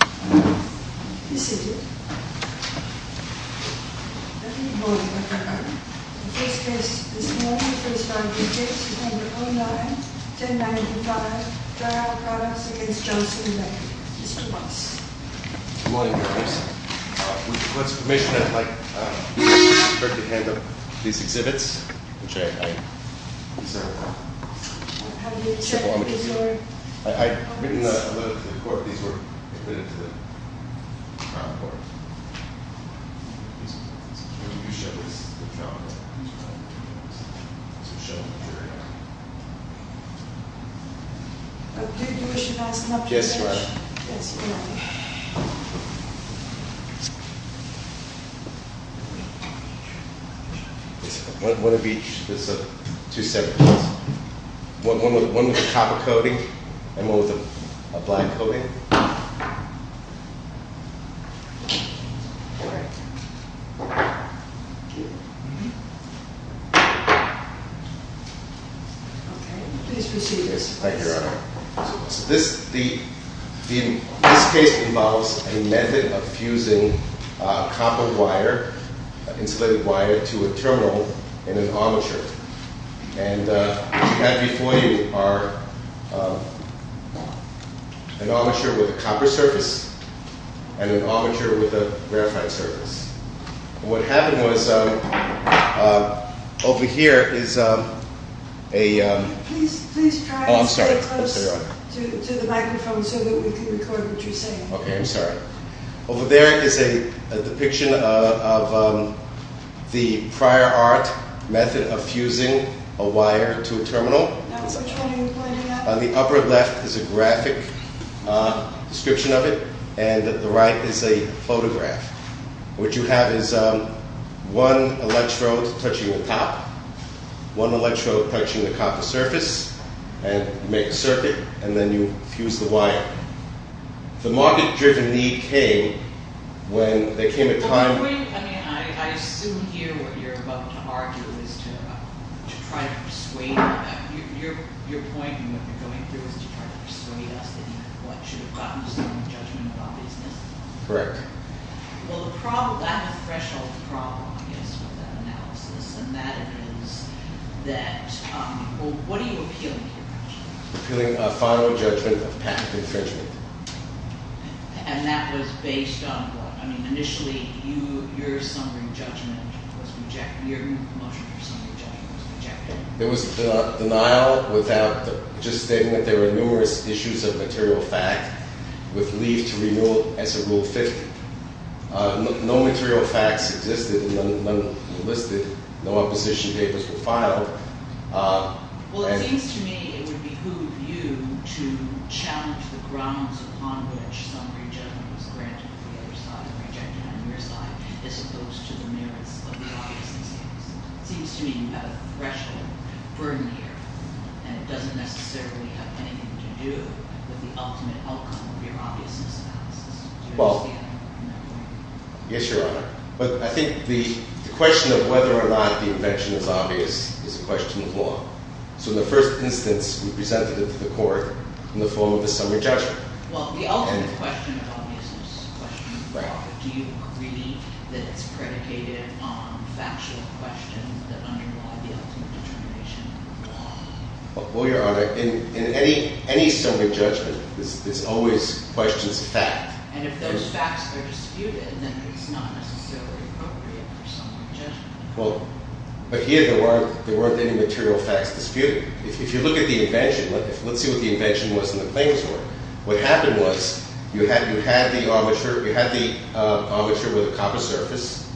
This is it. Let me call the record. The first case this morning, the first five cases on the home line, 1095, dry out products against Johnson and Leckie, Mr. Weiss. Good morning, Your Honor. With the court's permission, I'd like the court to hand over these exhibits, which I deserve. Have you accepted the story? I've written a letter to the court, these were admitted to the trial court. These are the exhibits. You show this to the trial court. These are the exhibits. So show them to your Honor. Do you wish to announce the subject of the case? Yes, Your Honor. Yes, Your Honor. One of each, there's two separate ones. One with a copper coating and one with a black coating. Okay, please proceed. Yes, thank you, Your Honor. So this case involves a method of fusing copper wire, insulated wire to a terminal in an armature. And what you have before you are an armature with a copper surface and an armature with a graphite surface. What happened was, over here is a- Please try and stay close to the microphone so that we can record what you're saying. Okay, I'm sorry. Over there is a depiction of the prior art method of fusing a wire to a terminal. Now, what's I'm trying to point out? On the upper left is a graphic description of it, and at the right is a photograph. What you have is one electrode touching the top, one electrode touching the copper surface, and you make a circuit, and then you fuse the wire. The market-driven need came when there came a time- Well, I mean, I assume here what you're about to argue is to try to persuade us. Your point in what you're going through is to try to persuade us that you have what should have gotten us some judgment about business. Correct. Well, I have a threshold problem, I guess, with that analysis, and that is that, well, what are you appealing here, Judge? Appealing a final judgment of patent infringement. And that was based on what? I mean, initially, your motion for summary judgment was rejected. There was denial without just stating that there were numerous issues of material fact with leave to renewal as a rule 50. No material facts existed, none listed, no opposition papers were filed. Well, it seems to me it would behoove you to challenge the grounds upon which summary judgment was granted to the other side and rejected on your side, as opposed to the merits of the obviousness analysis. It seems to me you have a threshold burden here, and it doesn't necessarily have anything to do with the ultimate outcome of your obviousness analysis. Well, yes, Your Honor. But I think the question of whether or not the invention is obvious is a question of law. So in the first instance, we presented it to the court in the form of a summary judgment. Well, the ultimate question of obviousness is a question of law, but do you agree that it's predicated on factual questions that underlie the ultimate determination of the law? Well, Your Honor, in any summary judgment, it's always questions of fact. And if those facts are disputed, then it's not necessarily appropriate for summary judgment. Well, but here there weren't any material facts disputed. If you look at the invention, let's see what the invention was in the claims court. What happened was, you had the armature with a copper surface.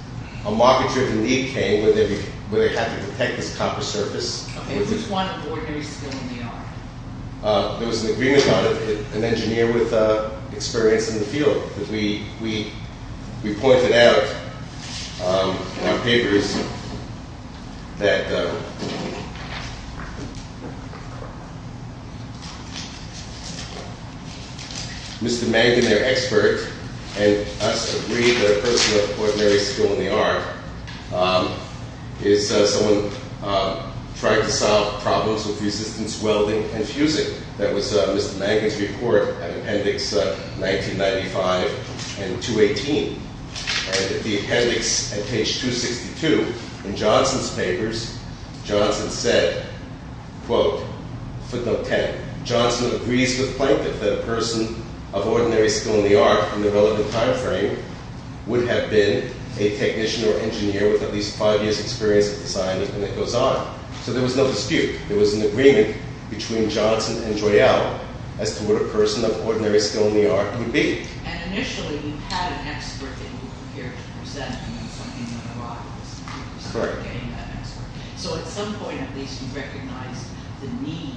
A mockature of the lead came where they had to detect this copper surface. And it was one of ordinary skill in the art. There was an agreement on it, an engineer with experience in the field. We pointed out in our papers that Mr. Mangan, their expert, and us agreed that a person of ordinary skill in the art is someone trying to solve problems with resistance welding and fusing. That was Mr. Mangan's report, appendix 1995 and 218. And the appendix at page 262 in Johnson's papers, Johnson said, quote, footnote 10. Johnson agrees with Plankton that a person of ordinary skill in the art in the relevant time frame would have been a technician or engineer with at least five years experience in design, and it goes on. So there was no dispute. There was an agreement between Johnson and Joyow as to what a person of ordinary skill in the art would be. And initially, we had an expert that we were prepared to present. We knew something was on the rise, so we started getting that expert. So at some point, at least, we recognized the need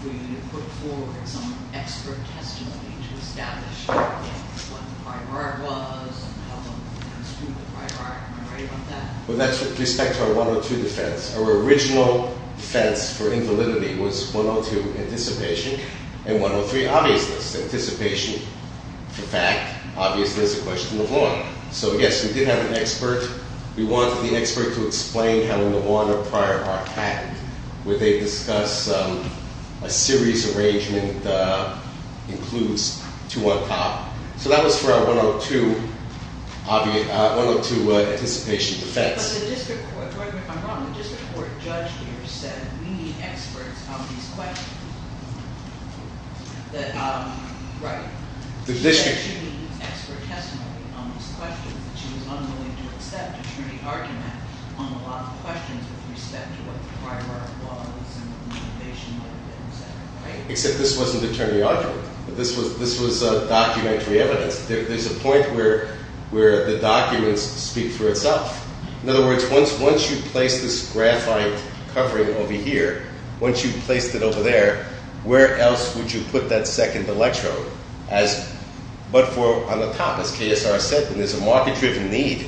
for you to put forward some expert testimony to establish what the prior art was and how long it was true, the prior art, am I right about that? With respect to our 102 defense, our original defense for invalidity was 102, anticipation, and 103, obviousness. Anticipation, for fact, obviousness, a question of long. So yes, we did have an expert. We wanted the expert to explain how long the prior art had. Would they discuss a series arrangement includes two on top? So that was for our 102 anticipation defense. But the district court, correct me if I'm wrong, the district court judge here said we need experts on these questions. That, right, she said she needs expert testimony on these questions. She was unwilling to accept attorney argument on a lot of questions with respect to what the prior art was and motivation might have been, etc., right? Except this wasn't attorney argument. This was documentary evidence. There's a point where the documents speak for itself. In other words, once you place this graphite covering over here, once you've placed it over there, where else would you put that second electrode? As, but for on the top, as KSR said, there's a market-driven need.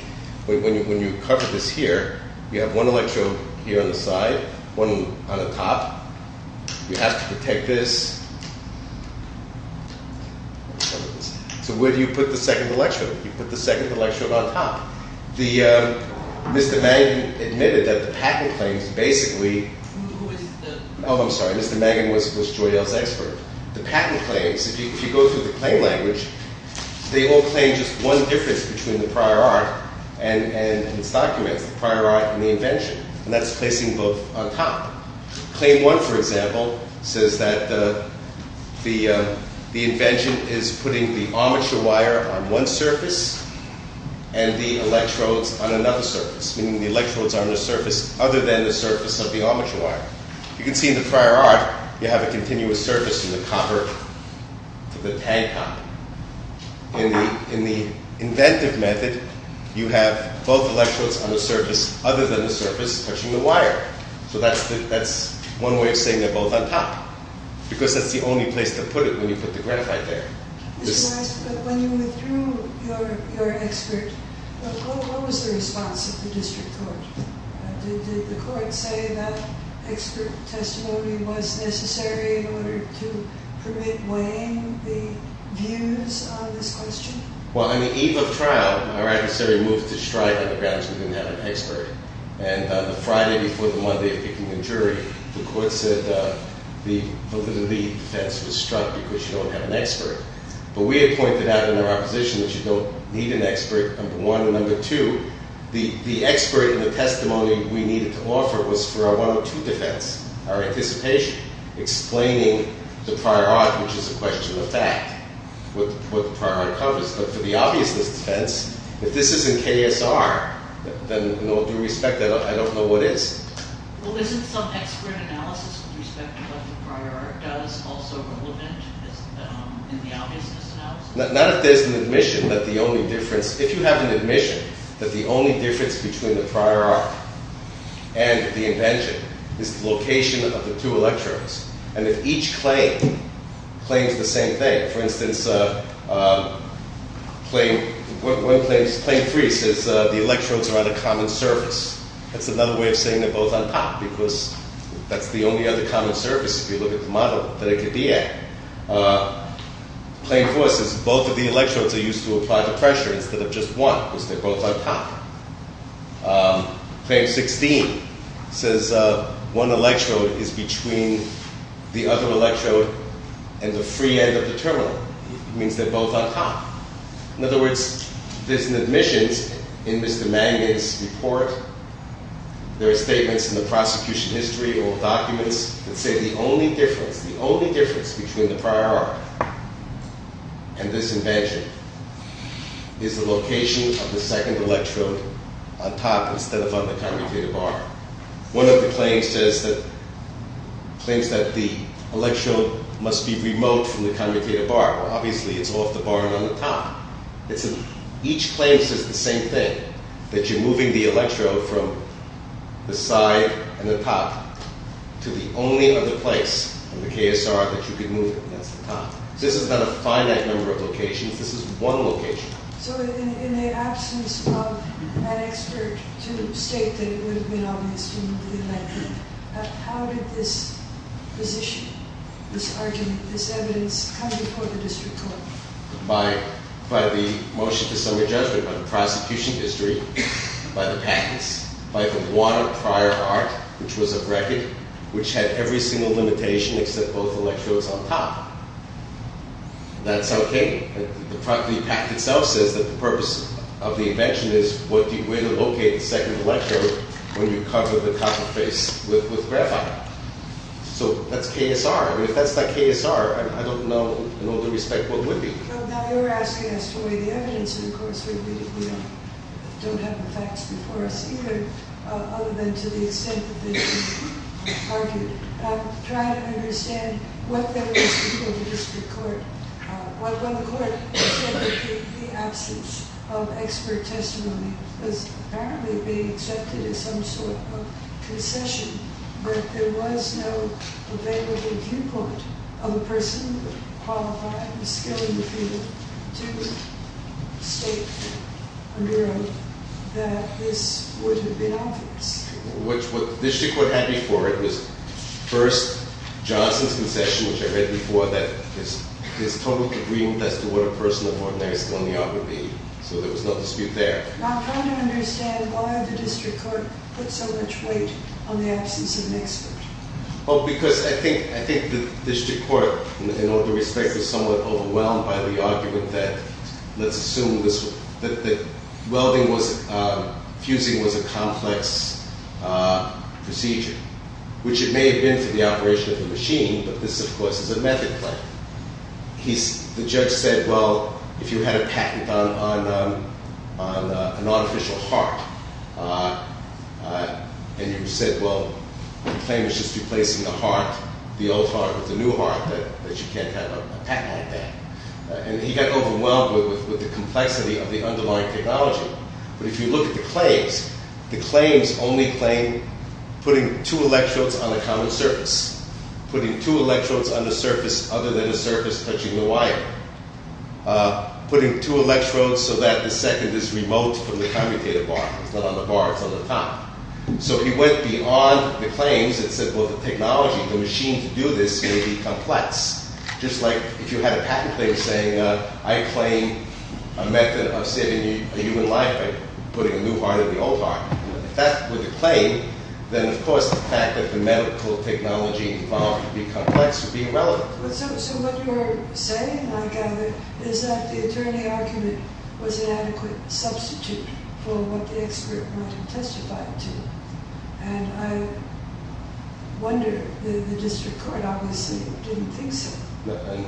When you cover this here, you have one electrode here on the side, one on the top, you have to protect this. So where do you put the second electrode? You put the second electrode on top. The, Mr. Mangan admitted that the patent claims basically- Who is the- I'm sorry, Mr. Mangan was Joyelle's expert. The patent claims, if you go through the claim language, they all claim just one difference between the prior art and its documents, the prior art and the invention. And that's placing both on top. Claim one, for example, says that the invention is putting the armature wire on one surface and the electrodes on another surface, meaning the electrodes are on a surface other than the surface of the armature wire. You can see in the prior art, you have a continuous surface from the copper to the tank top. In the inventive method, you have both electrodes on the surface other than the surface touching the wire. So that's one way of saying they're both on top, because that's the only place to put it when you put the graphite there. Mr. Weiss, when you withdrew your expert, what was the response of the district court? Did the court say that expert testimony was necessary in order to permit weighing the views on this question? Well, on the eve of trial, our adversary moved to strike on the grounds we didn't have an expert. And on the Friday before the Monday of picking the jury, the court said the validity defense was struck because you don't have an expert. But we had pointed out in our opposition that you don't need an expert, number one. Number two, the expert in the testimony we needed to offer was for our one-on-two defense, our anticipation, explaining the prior art, which is a question of fact, what the prior art covers. But for the obviousness defense, if this isn't KSR, then in all due respect, I don't know what is. Well, isn't some expert analysis with respect to what the prior art does also relevant in the obviousness analysis? Not if there's an admission that the only difference... If you have an admission that the only difference between the prior art and the invention is the location of the two electrodes, and if each claim claims the same thing, for instance, claim three says the electrodes are on a common surface. That's another way of saying they're both on top, because that's the only other common surface if you look at the model that it could be at. Claim four says both of the electrodes are used to apply the pressure instead of just one, because they're both on top. Claim 16 says one electrode is between the other electrode and the free end of the terminal. It means they're both on top. In other words, there's an admissions in Mr. Magnin's report. There are statements in the prosecution history or documents that say the only difference, the only difference between the prior art and this invention is the location of the second electrode on top instead of on the commutator bar. One of the claims says that... Claims that the electrode must be remote from the commutator bar. Obviously, it's off the bar and on the top. Each claim says the same thing, that you're moving the electrode from the side and the top to the only other place in the KSR that you can move it, and that's the top. This is not a finite number of locations, this is one location. So in the absence of an expert to state that it would have been obvious to move the electrode, how did this position, this argument, this evidence come before the district court? By the motion to summary judgment, by the prosecution history, by the patents, by the water prior art, which was a record, which had every single limitation except both electrodes on top. That's okay. The property pact itself says that the purpose of the invention is where to locate the second electrode when you cover the top of the face with graphite. So that's KSR. If that's not KSR, I don't know in all due respect what would be. Now you're asking us to weigh the evidence, and of course we don't have the facts before us either, other than to the extent that they've been argued. I'm trying to understand what that would mean for the district court. Well, the court said that the absence of expert testimony was apparently being accepted as some sort of concession, but there was no available viewpoint of a person qualified and skilled in the field to state under oath that this would have been obvious. What the district court had before it was, first, Johnson's concession, which I read before, that his total agreement as to what a person of ordinary skill in the art would be. So there was no dispute there. I'm trying to understand why the district court put so much weight on the absence of an expert. Oh, because I think the district court, in all due respect, was somewhat overwhelmed by the argument that fusing was a complex procedure, which it may have been for the operation of the machine, but this, of course, is a method claim. The judge said, well, if you had a patent on an artificial heart, and you said, well, the claim is just replacing the old heart with a new heart, that you can't have a patent on that. And he got overwhelmed with the complexity of the underlying technology. But if you look at the claims, the claims only claim putting two electrodes on a common surface, putting two electrodes on a surface other than a surface touching the wire, putting two electrodes so that the second is remote from the commutative bar. It's not on the bar, it's on the top. So he went beyond the claims and said, well, the technology, the machine to do this may be complex. Just like if you had a patent claim saying, I claim a method of saving a human life by putting a new heart in the old heart. If that were the claim, then of course the fact that the medical technology involved could be complex would be irrelevant. So what you're saying, I gather, is that the attorney argument was an adequate substitute for what the expert might have testified to. And I wonder, the district court obviously didn't think so.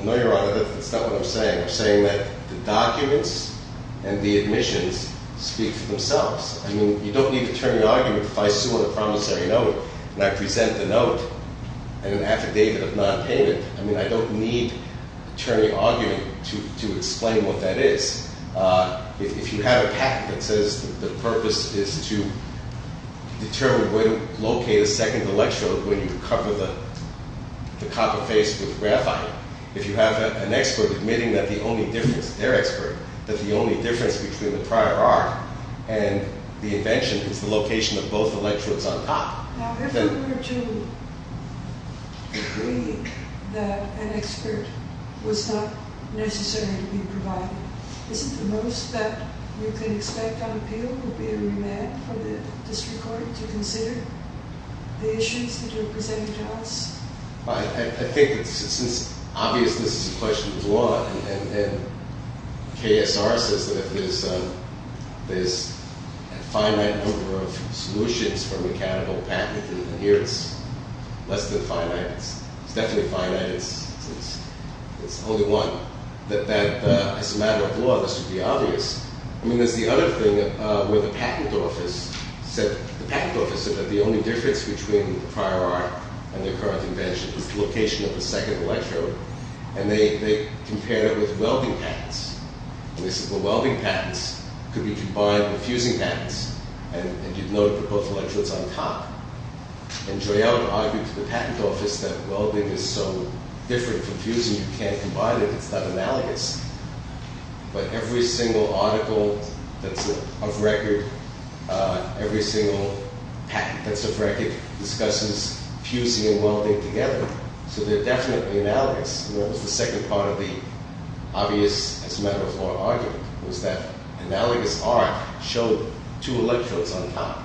No, Your Honor, that's not what I'm saying. I'm saying that the documents and the admissions speak for themselves. I mean, you don't need an attorney argument if I sue on a promissory note and I present the note and an affidavit of non-payment. I mean, I don't need an attorney argument to explain what that is. If you have a patent that says the purpose is to determine where to locate a second electrode when you cover the copper face with graphite. If you have an expert admitting that the only difference, their expert, that the only difference between the prior arc and the invention is the location of both electrodes on top. Now, if I were to agree that an expert was not necessary to be provided, isn't the most that you can expect on appeal would be a remand for the district court to consider the issues that you're presenting to us? I think since, obviously, this is a question of law, and KSR says that if there's a finite number of solutions for mechanical patenting, and here it's less than finite. It's definitely finite. It's only one. As a matter of law, this would be obvious. I mean, there's the other thing where the patent office said that the only difference between the prior arc and the current invention is the location of the second electrode. And they compared it with welding patents. And they said, well, welding patents could be combined with fusing patents. And you'd note that both electrodes are on top. And Joyelle would argue to the patent office that welding is so different from fusing that you can't combine it. It's not analogous. But every single article that's of record, every single patent that's of record, discusses fusing and welding together. So they're definitely analogous. And that was the second part of the obvious, as a matter of law, argument, was that analogous arc showed two electrodes on top.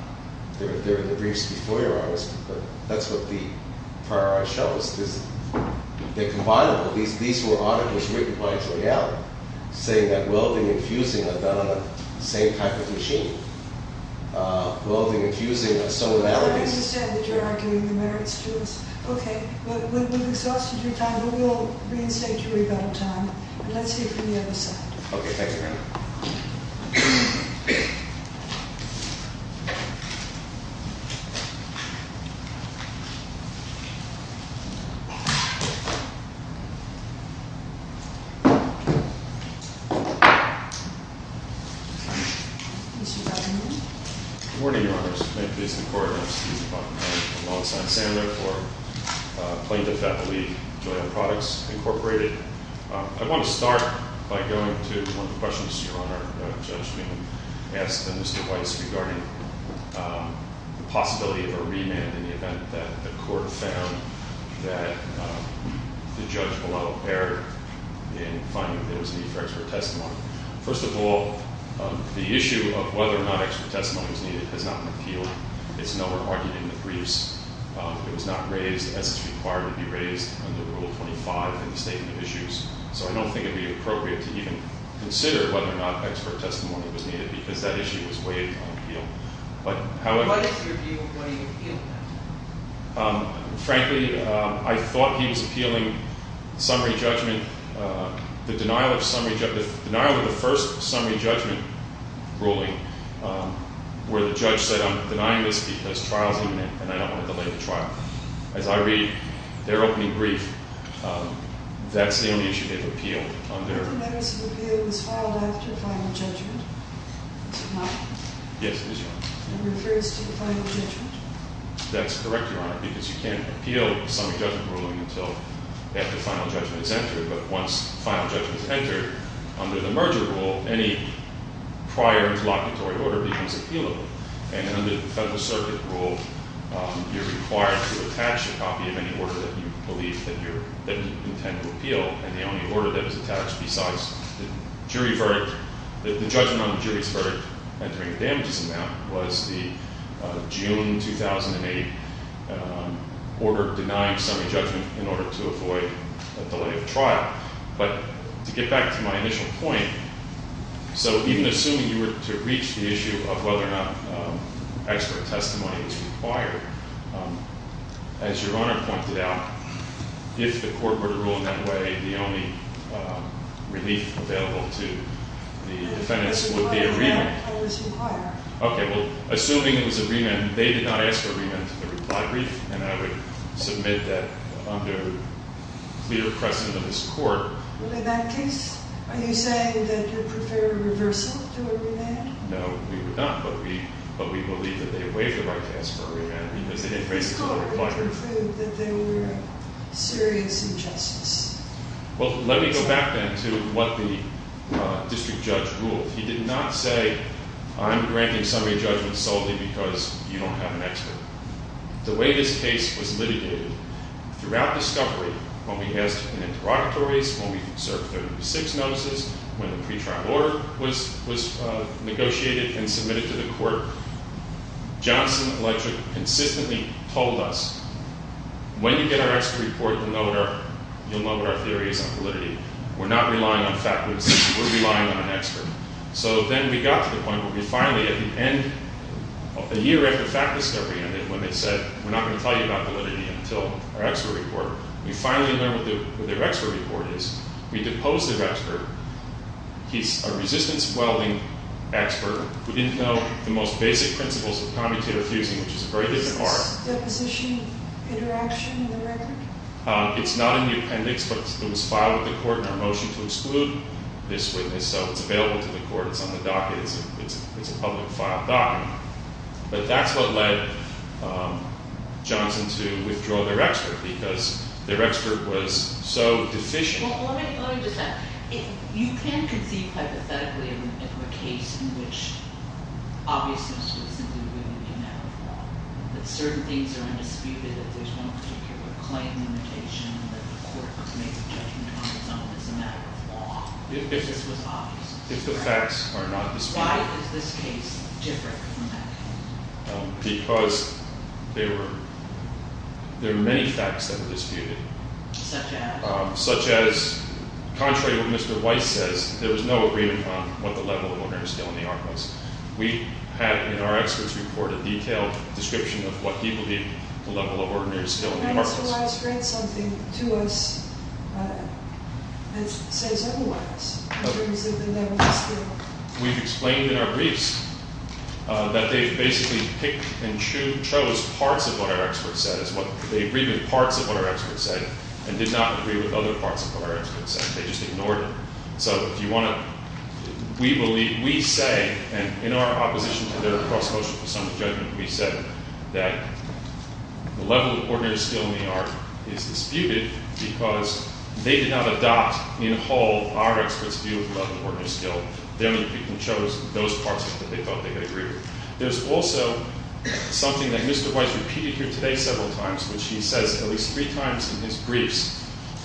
There were the briefs before, but that's what the prior arc shows. They're combinable. These were articles written by Joyelle saying that welding and fusing are done on the same type of machine. Welding and fusing are so analogous. I understand that you're arguing the merits to us. Okay. We've exhausted your time, but we'll reinstate your rebuttal time. And let's hear from the other side. Okay. Thank you. Thank you. Good morning, Your Honors. Clint Beasley, Court of Appeals, Department of Human Rights, alongside Sandra for Plaintiff Athlete, Joyelle Products, Incorporated. I want to start by going to one of the questions, Your Honor, that a judge asked Mr. Weiss regarding the possibility of a remand in the event that the court found that the judge below erred in finding that there was a need for expert testimony. First of all, the issue of whether or not expert testimony was needed has not been appealed. It's no longer argued in the briefs. It was not raised as it's required to be raised under Rule 25 in the Statement of Issues. So I don't think it would be appropriate to even consider whether or not expert testimony was needed because that issue was waived on appeal. But, however- What is your view on whether you appealed that? Frankly, I thought he was appealing summary judgment. The denial of the first summary judgment ruling where the judge said, I'm denying this because trial's imminent and I don't want to delay the trial. As I read their opening brief, that's the only issue they've appealed. Are the matters of appeal filed after final judgment? Yes, it is, Your Honor. And it refers to the final judgment? That's correct, Your Honor, because you can't appeal summary judgment ruling until after final judgment is entered. But once final judgment is entered, under the merger rule, any prior interlocutory order becomes appealable. And under the Federal Circuit rule, you're required to attach a copy of any order that you believe that you intend to appeal. And the only order that was attached besides the jury verdict, the judgment on the jury's verdict, entering a damages amount, was the June 2008 order denying summary judgment in order to avoid a delay of trial. But to get back to my initial point, so even assuming you were to reach the issue of whether or not expert testimony is required, as Your Honor pointed out, if the court were to rule in that way, the only relief available to the defendants is whether or not it was required. Okay, well, assuming it was a remand, they did not ask for a remand to the reply brief, and I would submit that under clear precedent of this court. Well, in that case, are you saying that you'd prefer a reversal to a remand? No, we would not, but we believe that they waived the right to ask for a remand because they didn't raise it to the reply brief. The court would prove that they were serious in justice. Well, let me go back then to what the district judge ruled. He did not say, I'm granting summary judgment solely because you don't have an expert. The way this case was litigated, throughout discovery, when we asked in interrogatories, when we served 36 notices, when the pretrial order was negotiated and submitted to the court, Johnson Electric consistently told us, when you get our expert report, you'll know what our theory is on validity. We're not relying on faculty. We're relying on an expert. So then we got to the point where we finally, at the end, a year after fact discovery ended, when they said, we're not going to tell you about validity until our expert report, we finally learned what their expert report is. We deposed their expert. He's a resistance welding expert. We didn't know the most basic principles of commutator fusing, which is a very different art. Is this deposition interaction in the record? It's not in the appendix, but it was filed with the court and our motion to exclude this witness so it's available to the court. It's on the docket. It's a public file docket. But that's what led Johnson to withdraw their expert because their expert was so deficient. Well, let me just add, you can't conceive hypothetically of a case in which obviously this was simply women being out of law, that certain things are undisputed, that there's one particular claim limitation, that the court made a judgment on its own as a matter of law. If the facts are not disputed. Why is this case different from that case? Because there were many facts that were disputed. Such as? Such as contrary to what Mr. Weiss says, there was no agreement on what the level of ordinary skill in the art was. We had in our expert's report a detailed description of what he believed the level of ordinary skill in the art was. Mr. Weiss, read something to us that says otherwise, in terms of the level of skill. We've explained in our briefs that they basically picked and chose parts of what our expert said. They agreed with parts of what our expert said and did not agree with other parts of what our expert said. They just ignored it. So, if you want to... We say, and in our opposition to their cross-cultural presumptive judgment, we said that the level of ordinary skill in the art is disputed because they did not adopt in whole our expert's view of the level of ordinary skill. They're the people who chose those parts that they thought they could agree with. There's also something that Mr. Weiss repeated here today several times, which he says at least three times in his briefs,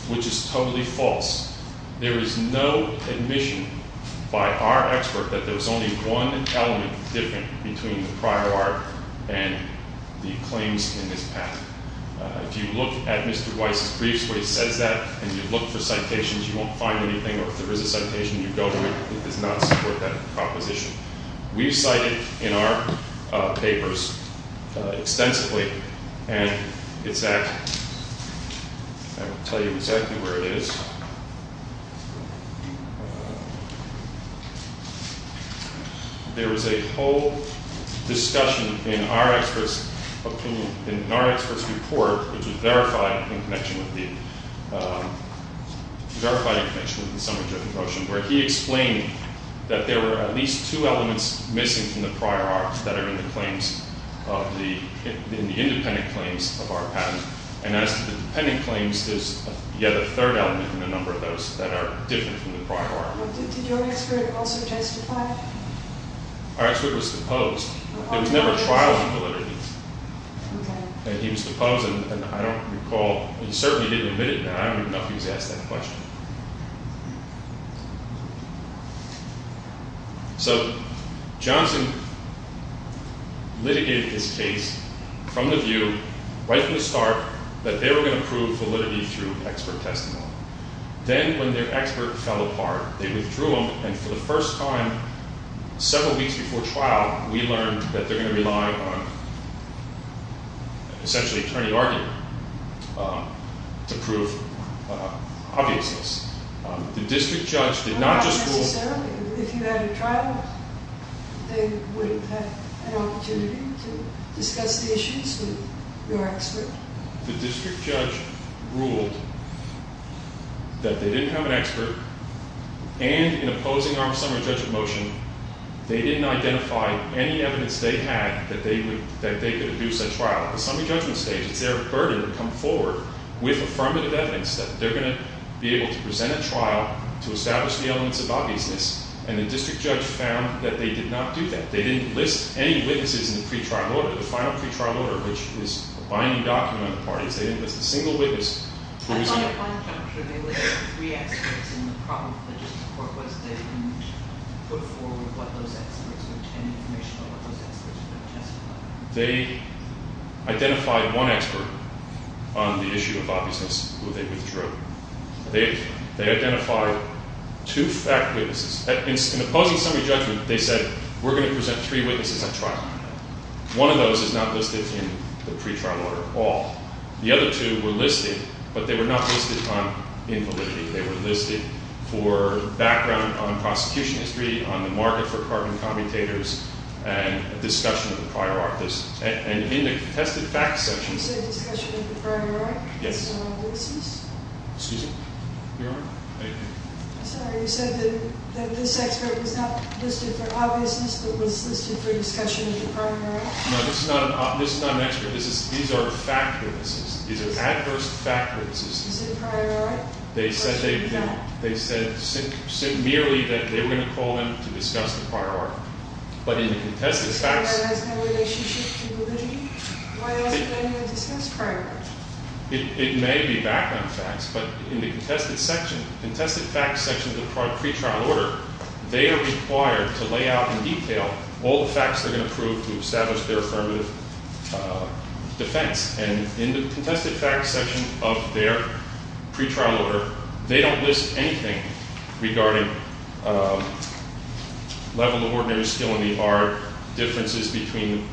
which is totally false. There is no admission by our expert that there's only one element different between the prior art and the claims in this patent. If you look at Mr. Weiss' briefs where he says that, and you look for citations, you won't find anything. Or if there is a citation, you go to it. It does not support that proposition. We've cited in our papers extensively, and it's at... I will tell you exactly where it is. There was a whole discussion in our expert's opinion, in our expert's report, which was verified in connection with the summary of the motion, where he explained that there were at least two elements missing from the prior art that are in the claims, in the independent claims of our patent. And as to the dependent claims, you have a third element in a number of those that are different from the prior art. Did your expert also justify it? Our expert was supposed. It was never a trial of validity. Okay. He was supposed, and I don't recall... He certainly didn't admit it, and I don't know if he was asked that question. So, Johnson litigated this case from the view, right from the start, that they were going to prove validity through expert testimony. Then, when their expert fell apart, they withdrew him, and for the first time, several weeks before trial, we learned that they're going to rely on essentially attorney argument to prove obviousness. The district judge did not just... Not necessarily. If you had a trial, they wouldn't have an opportunity to discuss the issues with your expert. The district judge ruled that they didn't have an expert, and in opposing our summary judge of motion, they didn't identify any evidence they had that they could reduce that trial. At the summary judgment stage, it's their burden to come forward with affirmative evidence that they're going to be able to present a trial to establish the elements of obviousness, and the district judge found that they did not do that. They didn't list any witnesses in the final pre-trial order, which is a binding document on the parties. They didn't list a single witness who was... They identified one expert on the issue of obviousness, who they withdrew. They identified two fact witnesses. In opposing summary judgment, they said we're going to present three witnesses at trial. One of those is not listed in the pre-trial order at all. The other two were listed, but they were not listed on invalidity. They were listed for background on prosecution history, on the market for carbon commutators, and discussion of the prior art. And in the contested facts section... You said discussion of the prior art? Yes. Excuse me? Sorry, you said that this expert was not listed for obviousness, but was listed for discussion of the prior art? No, this is not an expert. These are fact witnesses. These are adverse fact witnesses. Is it prior art? They said merely that they were going to call them to discuss the prior art. But in the contested facts... And that has no relationship to validity? Why hasn't anyone discussed prior art? It may be background facts, but in the contested section, the contested facts section of the pre-trial order, they are required to lay out in detail all the facts they're going to prove to establish their affirmative defense. And in the contested facts section of their pre-trial order, they don't list anything regarding level of ordinary skill in the art, differences between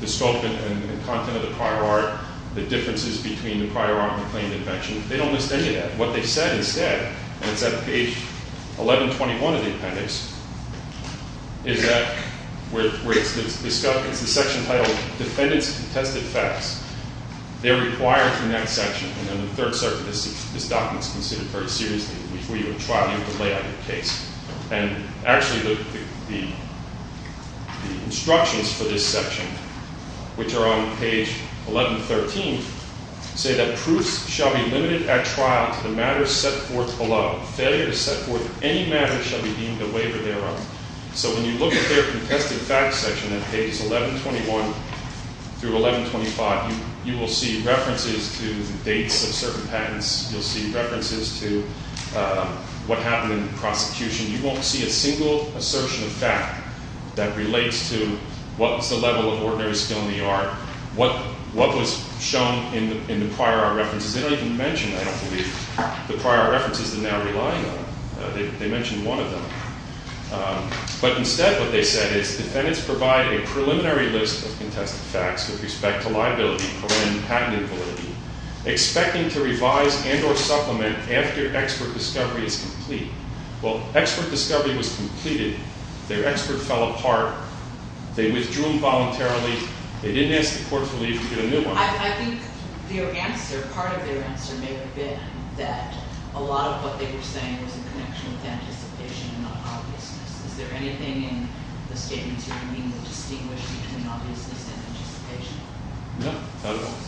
the scope and content of the prior art, the differences between the prior art and the claimed invention. They don't list any of that. What they said instead, and it's at page 1121 of the appendix, is that where it's the section titled Defendants' Contested Facts. They're required in that section, and in the Third Circuit, this document is considered very seriously. Before you go to trial, you have to lay out your case. And actually, the instructions for this section, which are on page 1113, say that proofs shall be limited at trial to the matters set forth below. Failure to set forth any matters shall be deemed a waiver thereof. So when you look at their contested facts section at pages 1121 through 1125, you will see references to dates of certain patents. You'll see references to what happened in the prosecution. You won't see a single assertion of fact that relates to what was the level of ordinary skill in the art, what was shown in the prior art references. They don't even mention I don't believe the prior references they're now relying on. They mention one of them. But instead, what they said is defendants provide a preliminary list of contested facts with respect to liability, patent invalidity, expecting to revise and or supplement after expert discovery is complete. Well, expert discovery was completed. Their expert fell apart. They withdrew involuntarily. They didn't ask the court for leave to get a new one. I think their answer, part of their answer may have been that a lot of what they were saying was a connection with anticipation and not obviousness. Is there anything in the statements you're reading that distinguish between obviousness and anticipation? No, not at all.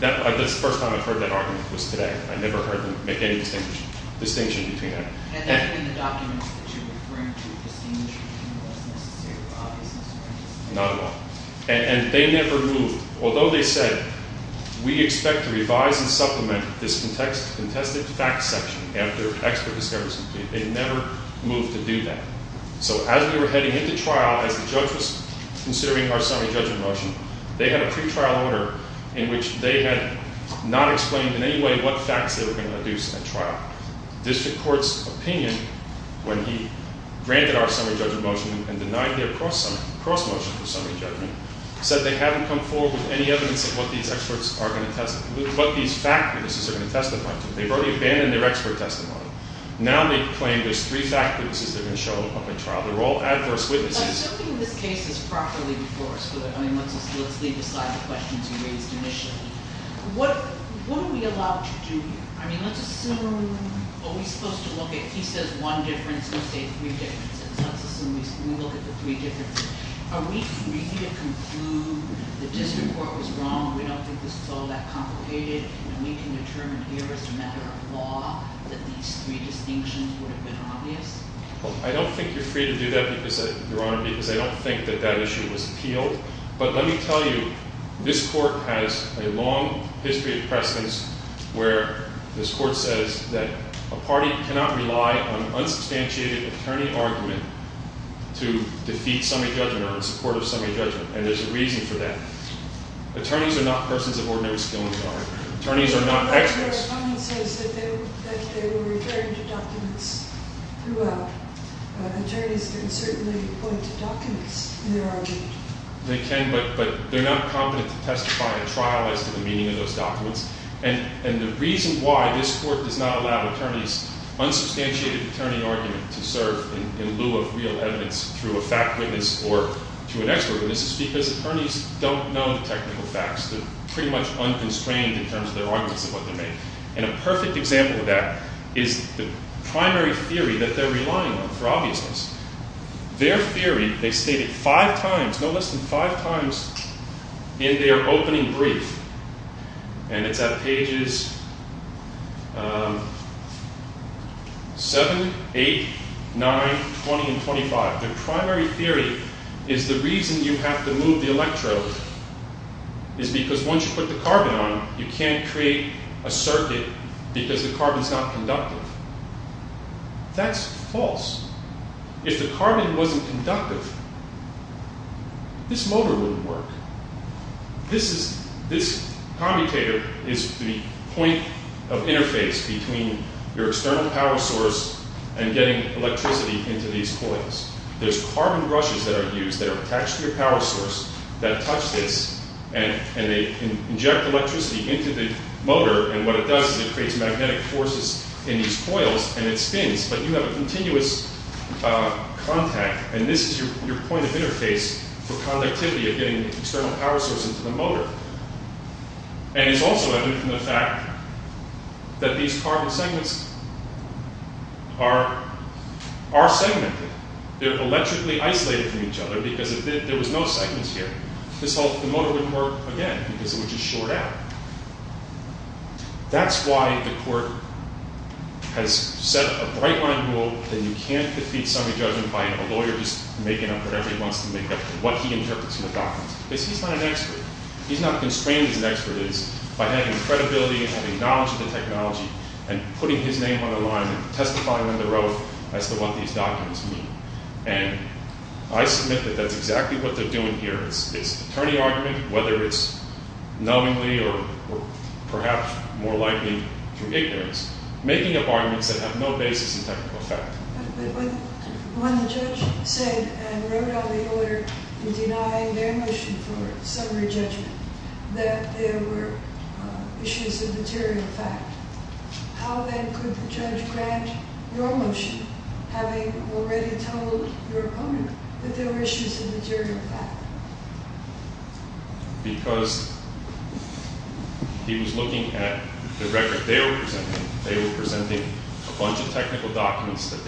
That's the first time I've heard that argument was today. I've never heard them make any distinction between that. And that's in the documents that you're referring to distinguish between what's necessary for obviousness and what's not? Not at all. And they never moved. Although they said we expect to revise and supplement this contested facts section after expert discovery is complete, they never moved to do that. So as we were heading into trial, as the judge was considering our summary judgment motion, they had a pretrial order in which they had not explained in any way what facts they were going to deduce in that trial. District Court's opinion when he granted our summary judgment motion and denied their cross-motion for summary judgment, said they haven't come forward with any evidence of what these experts are going to testify to. What these fact witnesses are going to testify to. They've already abandoned their expert testimony. Now they claim there's three fact witnesses they're going to show up at trial. They're all adverse witnesses. But assuming this case is properly enforced, let's leave aside the questions you raised initially. What are we allowed to do here? I mean, let's assume are we supposed to look at, he says one difference, let's say three differences. Let's assume we look at the three differences. Are we free to conclude the District Court was wrong? We don't think this is all that complicated and we can determine here as a matter of law that these three distinctions would have been obvious? I don't think you're free to do that because Your Honor, because I don't think that that issue was appealed. But let me tell you this Court has a long history of precedence where this Court says that a party cannot rely on to defeat semi-judgment or in support of semi-judgment. And there's a reason for that. Attorneys are not persons of ordinary skill, Your Honor. Attorneys are not experts. That's what our comment says, that they were referring to documents throughout. Attorneys can certainly point to documents in their argument. They can, but they're not competent to testify in trial as to the meaning of those documents. And the reason why this Court does not allow attorneys' unsubstantiated attorney argument to serve in lieu of real evidence through a fact witness or through an expert witness is because attorneys don't know the technical facts. They're pretty much unconstrained in terms of their arguments and what they make. And a perfect example of that is the primary theory that they're relying on for obviousness. Their theory, they state it five times, no less than five times in their opening brief. And it's at pages um 7, 8, 9, 20, and 25. Their primary theory is the reason you have to move the electrode is because once you put the carbon on it, you can't create a circuit because the carbon's not conductive. That's false. If the carbon wasn't conductive, this motor wouldn't work. This is, this commutator is the point of interface between your external power source and getting electricity into these coils. There's carbon brushes that are used that are attached to your power source that touch this and they inject electricity into the motor and what it does is it creates magnetic forces in these coils and it spins, but you have a continuous contact and this is your point of interface for conductivity of getting the external power source into the motor. And it's also evident from the fact that these carbon segments are segmented. They're electrically isolated from each other because there was no segments here. The motor wouldn't work again because it would just short out. That's why the court has set a bright line rule that you can't defeat summary judgment by a lawyer just making up whatever he wants to make up, what he interprets from the documents. Because he's not an expert. He's not constrained as an expert is by having credibility and having knowledge of the technology and putting his name on the line and testifying under oath as to what these documents mean and I submit that that's exactly what they're doing here. It's attorney argument whether it's knowingly or perhaps more likely through ignorance, making up arguments that have no basis in technical effect. When the judge said and wrote out a lawyer in denying their motion for summary judgment that there were issues of material fact, how then could the judge grant your motion having already told your opponent that there were issues of material fact? Because he was looking at the record they were presenting. They were presenting a bunch of technical documents that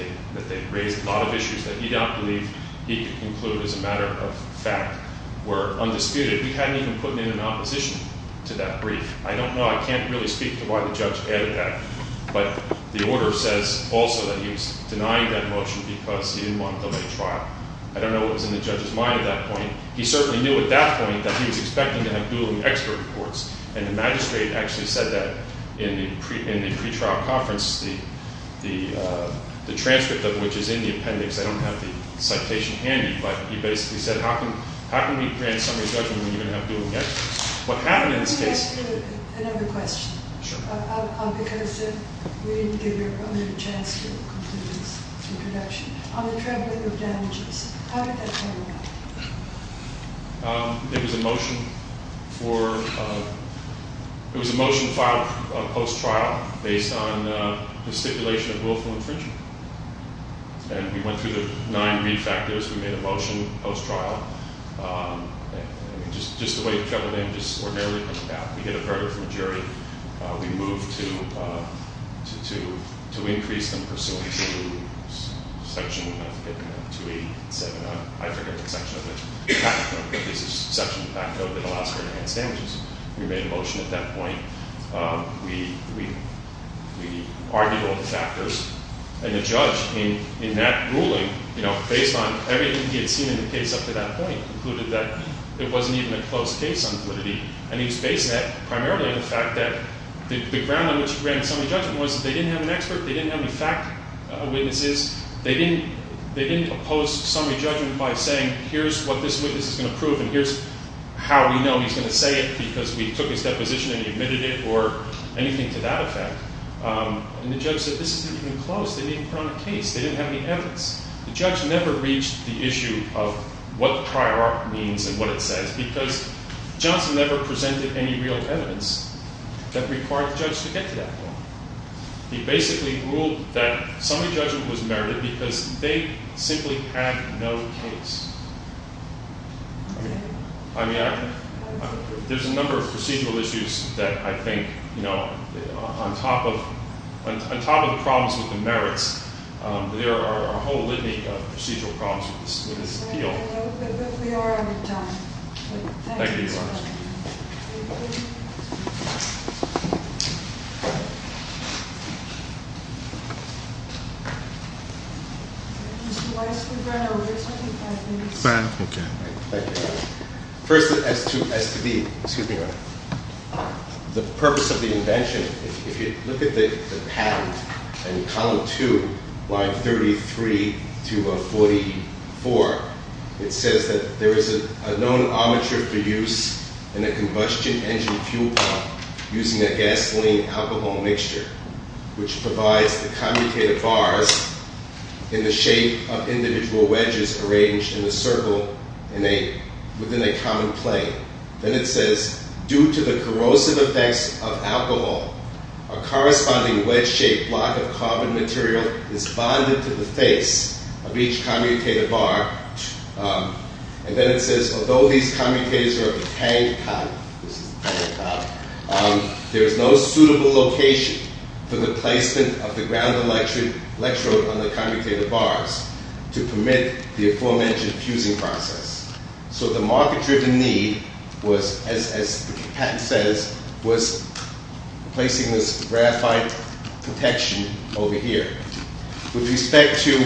they raised a lot of issues that he did not believe he could conclude as a matter of fact were undisputed. He hadn't even put in an opposition to that brief. I don't know. I can't really speak to why the judge added that. But the order says also that he was denying that motion because he didn't want to delay trial. I don't know what was in the judge's mind at that point. He certainly knew at that point that he was expecting to have dueling expert reports and the magistrate actually said that in the pretrial conference the judge didn't have the citation handy but he basically said how can we grant summary judgment when you're going to have dueling experts? What happened in this case... Another question. Because we didn't give your opponent a chance to conclude his introduction. On the traveling of damages, how did that come about? It was a motion for it was a motion filed post trial based on the stipulation of willful infringement. And we went through the nine main factors. We made a motion post trial. Just the way it fell in, just ordinarily it came about. We get a verdict from the jury. We move to increase them pursuant to section 287 I forget the section of it. There's a section of that that allows for enhanced damages. We made a motion at that point. We argued all the factors. And the judge, in that ruling, based on everything he had seen in the case up to that point, concluded that it wasn't even a close case on validity. And he was basing that primarily on the fact that the ground on which he granted summary judgment was that they didn't have an expert. They didn't have any fact witnesses. They didn't oppose summary judgment by saying here's what this witness is going to prove and here's how we know he's going to say it because we took his deposition and he admitted it or anything to that effect. And the judge said this isn't even close. They didn't put on a case. They didn't have any evidence. The judge never reached the issue of what the prior art means and what it says because Johnson never presented any real evidence that required the judge to get to that point. He basically ruled that summary judgment was merited because they simply had no case. I mean, there's a number of on top of the problems with the merits there are a whole litany of procedural problems with this appeal. We are out of time. Thank you, Your Honor. Mr. Weiss, we've run over 25 minutes. First, as to the excuse me, Your Honor, the purpose of the invention, if you look at the patent in column 2, line 33 to 44, it says that there is a known armature for use in a combustion engine fuel pump using a gasoline-alcohol mixture which provides the commutator bars in the shape of individual wedges arranged in a circle within a common plane. Then it says, due to the corrosive effects of alcohol, a corresponding wedge-shaped block of carbon material is bonded to the face of each commutator bar. And then it says, although these commutators are of a tank type, there is no suitable location for the placement of the ground electrode on the commutator bars to permit the aforementioned fusing process. So the market-driven need was, as the patent says, was placing this graphite protection over here. With respect to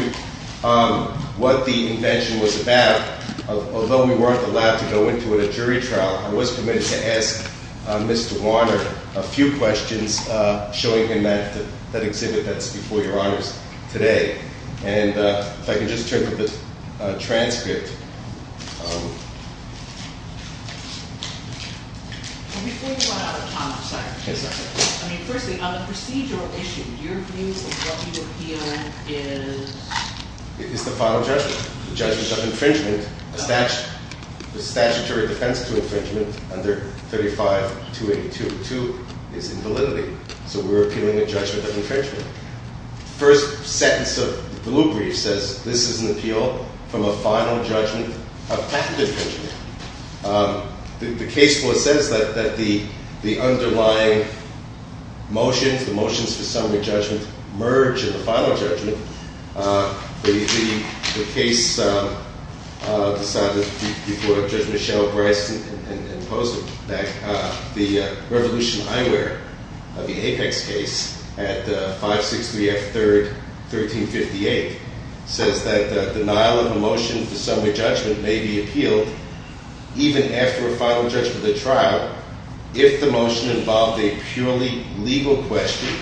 what the invention was about, although we weren't allowed to go into it at jury trial, I was permitted to ask Mr. Warner a few questions showing him that exhibit that's before Your Honors today. And if I could just turn to the transcript. Before we run out of time, I'm sorry. I mean, firstly, on the procedural issue, your view of what you appeal is... It's the final judgment. The judgment of infringement. The statutory defense to infringement under 35-282-2 is invalidity. So we're appealing the judgment of infringement. The first sentence of the blue brief says, this is an appeal from a final judgment of patent infringement. The case law says that the underlying motions, the motions for summary judgment merge in the final judgment. The case decided before Judge Michelle Bryce and opposed it. The Revolution Eyewear, the Apex case at 563 F. 3rd, 1358, says that the denial of a motion for summary judgment may be appealed even after a final judgment of the trial if the motion involved a purely legal question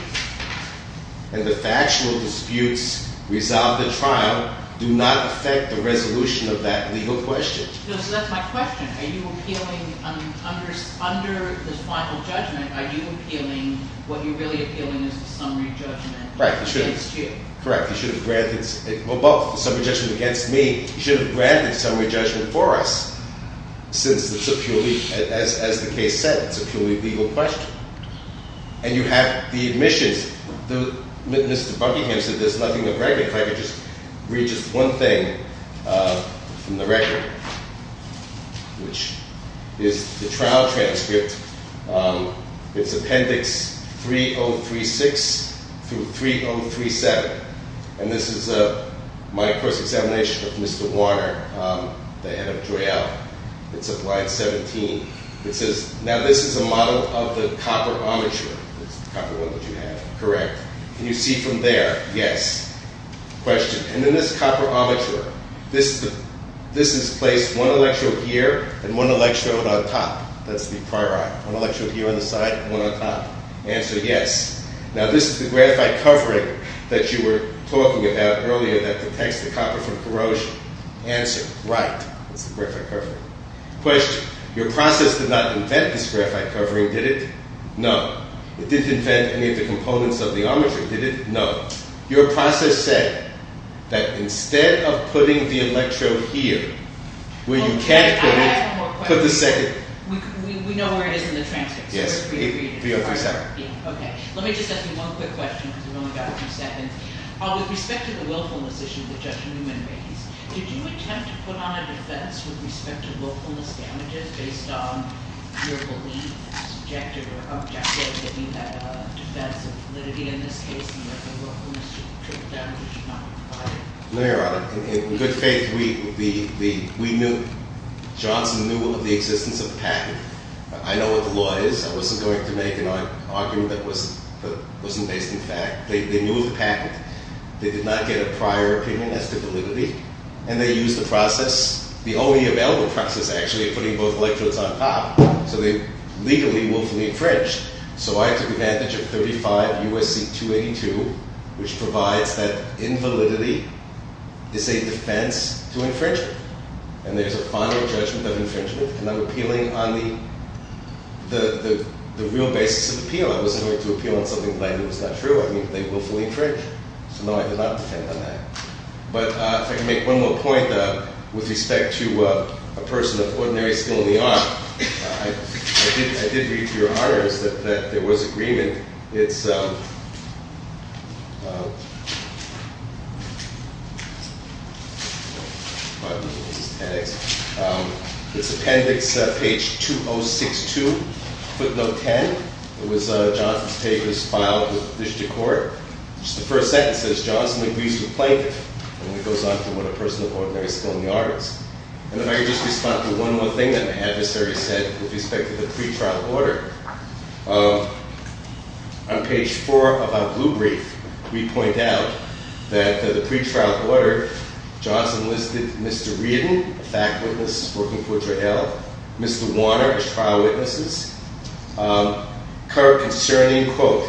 and the factual disputes resolve the trial do not affect the resolution of that legal question. So that's my question. Are you appealing under the final judgment? Are you appealing what you're really appealing as a summary judgment against you? Correct. You should have granted summary judgment against me. You should have granted summary judgment for us since it's a purely, as the case said, it's a purely legal question. And you have the admissions. Mr. Buckingham said there's nothing of record. If I could just read just one thing from the record which is the trial transcript. It's Appendix 3036 through 3037. And this is my course examination of Mr. Warner, the head of Joyelle. It's of line 17. It says, now this is a model of the copper armature. The copper one that you have. Correct. Can you see from there? Yes. Question. And then this copper armature, this is placed one electrode here and one electrode on top. That's the pyrite. One electrode here on the side and one on top. Answer, yes. Now this is the graphite covering that you were talking about earlier that protects the copper from corrosion. Answer, right. That's the graphite covering. Question. Your process did not invent this graphite covering, did it? No. It didn't invent any of the components of the armature, did it? No. Your process said that instead of putting the electrode here, where you can't put it, put the second. We know where it is in the transcript. Yes. 3037. Okay. Let me just ask you one quick question because we've only got a few seconds. With respect to the willfulness issue that Judge Newman raised, did you attempt to put on a defense with respect to willfulness damages based on your belief that subjective or objective, I mean that defense of validity in this case, that the willfulness triple damages should not be In good faith, we knew, Johnson knew of the existence of the patent. I know what the law is. I wasn't going to make an argument that wasn't based in fact. They knew of the patent. They did not get a prior opinion as to validity. And they used the process, the only available process actually, of putting both electrodes on top. So they legally willfully infringed. So I took advantage of 35 USC 282, which provides that invalidity is a defense to infringement. And there's a final judgment of infringement. And I'm appealing on the real basis of appeal. I wasn't going to appeal on something that was not true. I mean they willfully infringed. So no, I did not defend on that. But if I can make one more point with respect to a person of ordinary skill in the art. I did read through your honors that there was agreement. It's it's it's appendix page 2062 footnote 10. It was Jonathan's papers filed with the district court. It's the first sentence. It says Johnson agrees to a plaintiff. And it goes on to what a person of ordinary skill in the art is. And if I could just respond to one more thing that the adversary said with respect to the pretrial order. On page 4 of our blue brief we point out that the pretrial order, Johnson listed Mr. Reardon, a fact witness working for JL, Mr. Warner as trial witnesses concerning quote,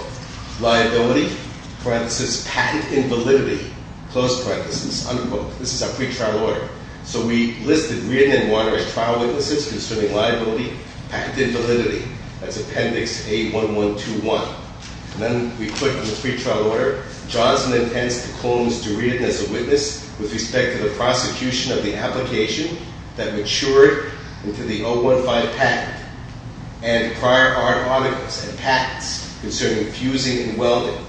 liability parenthesis patent invalidity, close parenthesis, unquote. This is our pretrial order. So we listed Reardon and Warner as trial witnesses concerning liability, patent invalidity. That's appendix 81121. And then we put in the pretrial order Johnson intends to close to Reardon as a witness with respect to the prosecution of the application that matured into the 015 patent. And prior art articles and patents concerning fusing and welding.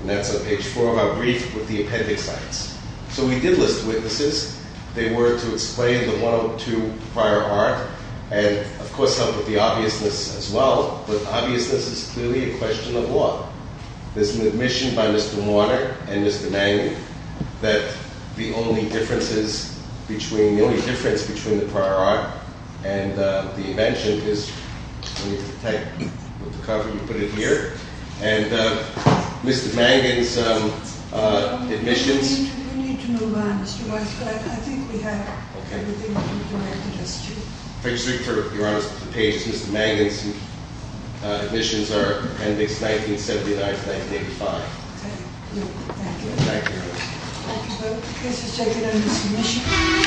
And that's on page 4 of our brief with the appendix lines. So we did list witnesses. They were to explain the 102 prior art and of course help with the obviousness as well. But obviousness is clearly a question of law. There's an admission by Mr. Warner and Mr. Mangan that the only differences between, the only difference between the prior art and the invention is with the cover you put it here and Mr. Mangan's admissions... I think we have everything you directed us to. If I could just read for your audience Mr. Mangan's admissions are appendix 1979 to 1985. Thank you. Thank you both. This is taken under submission.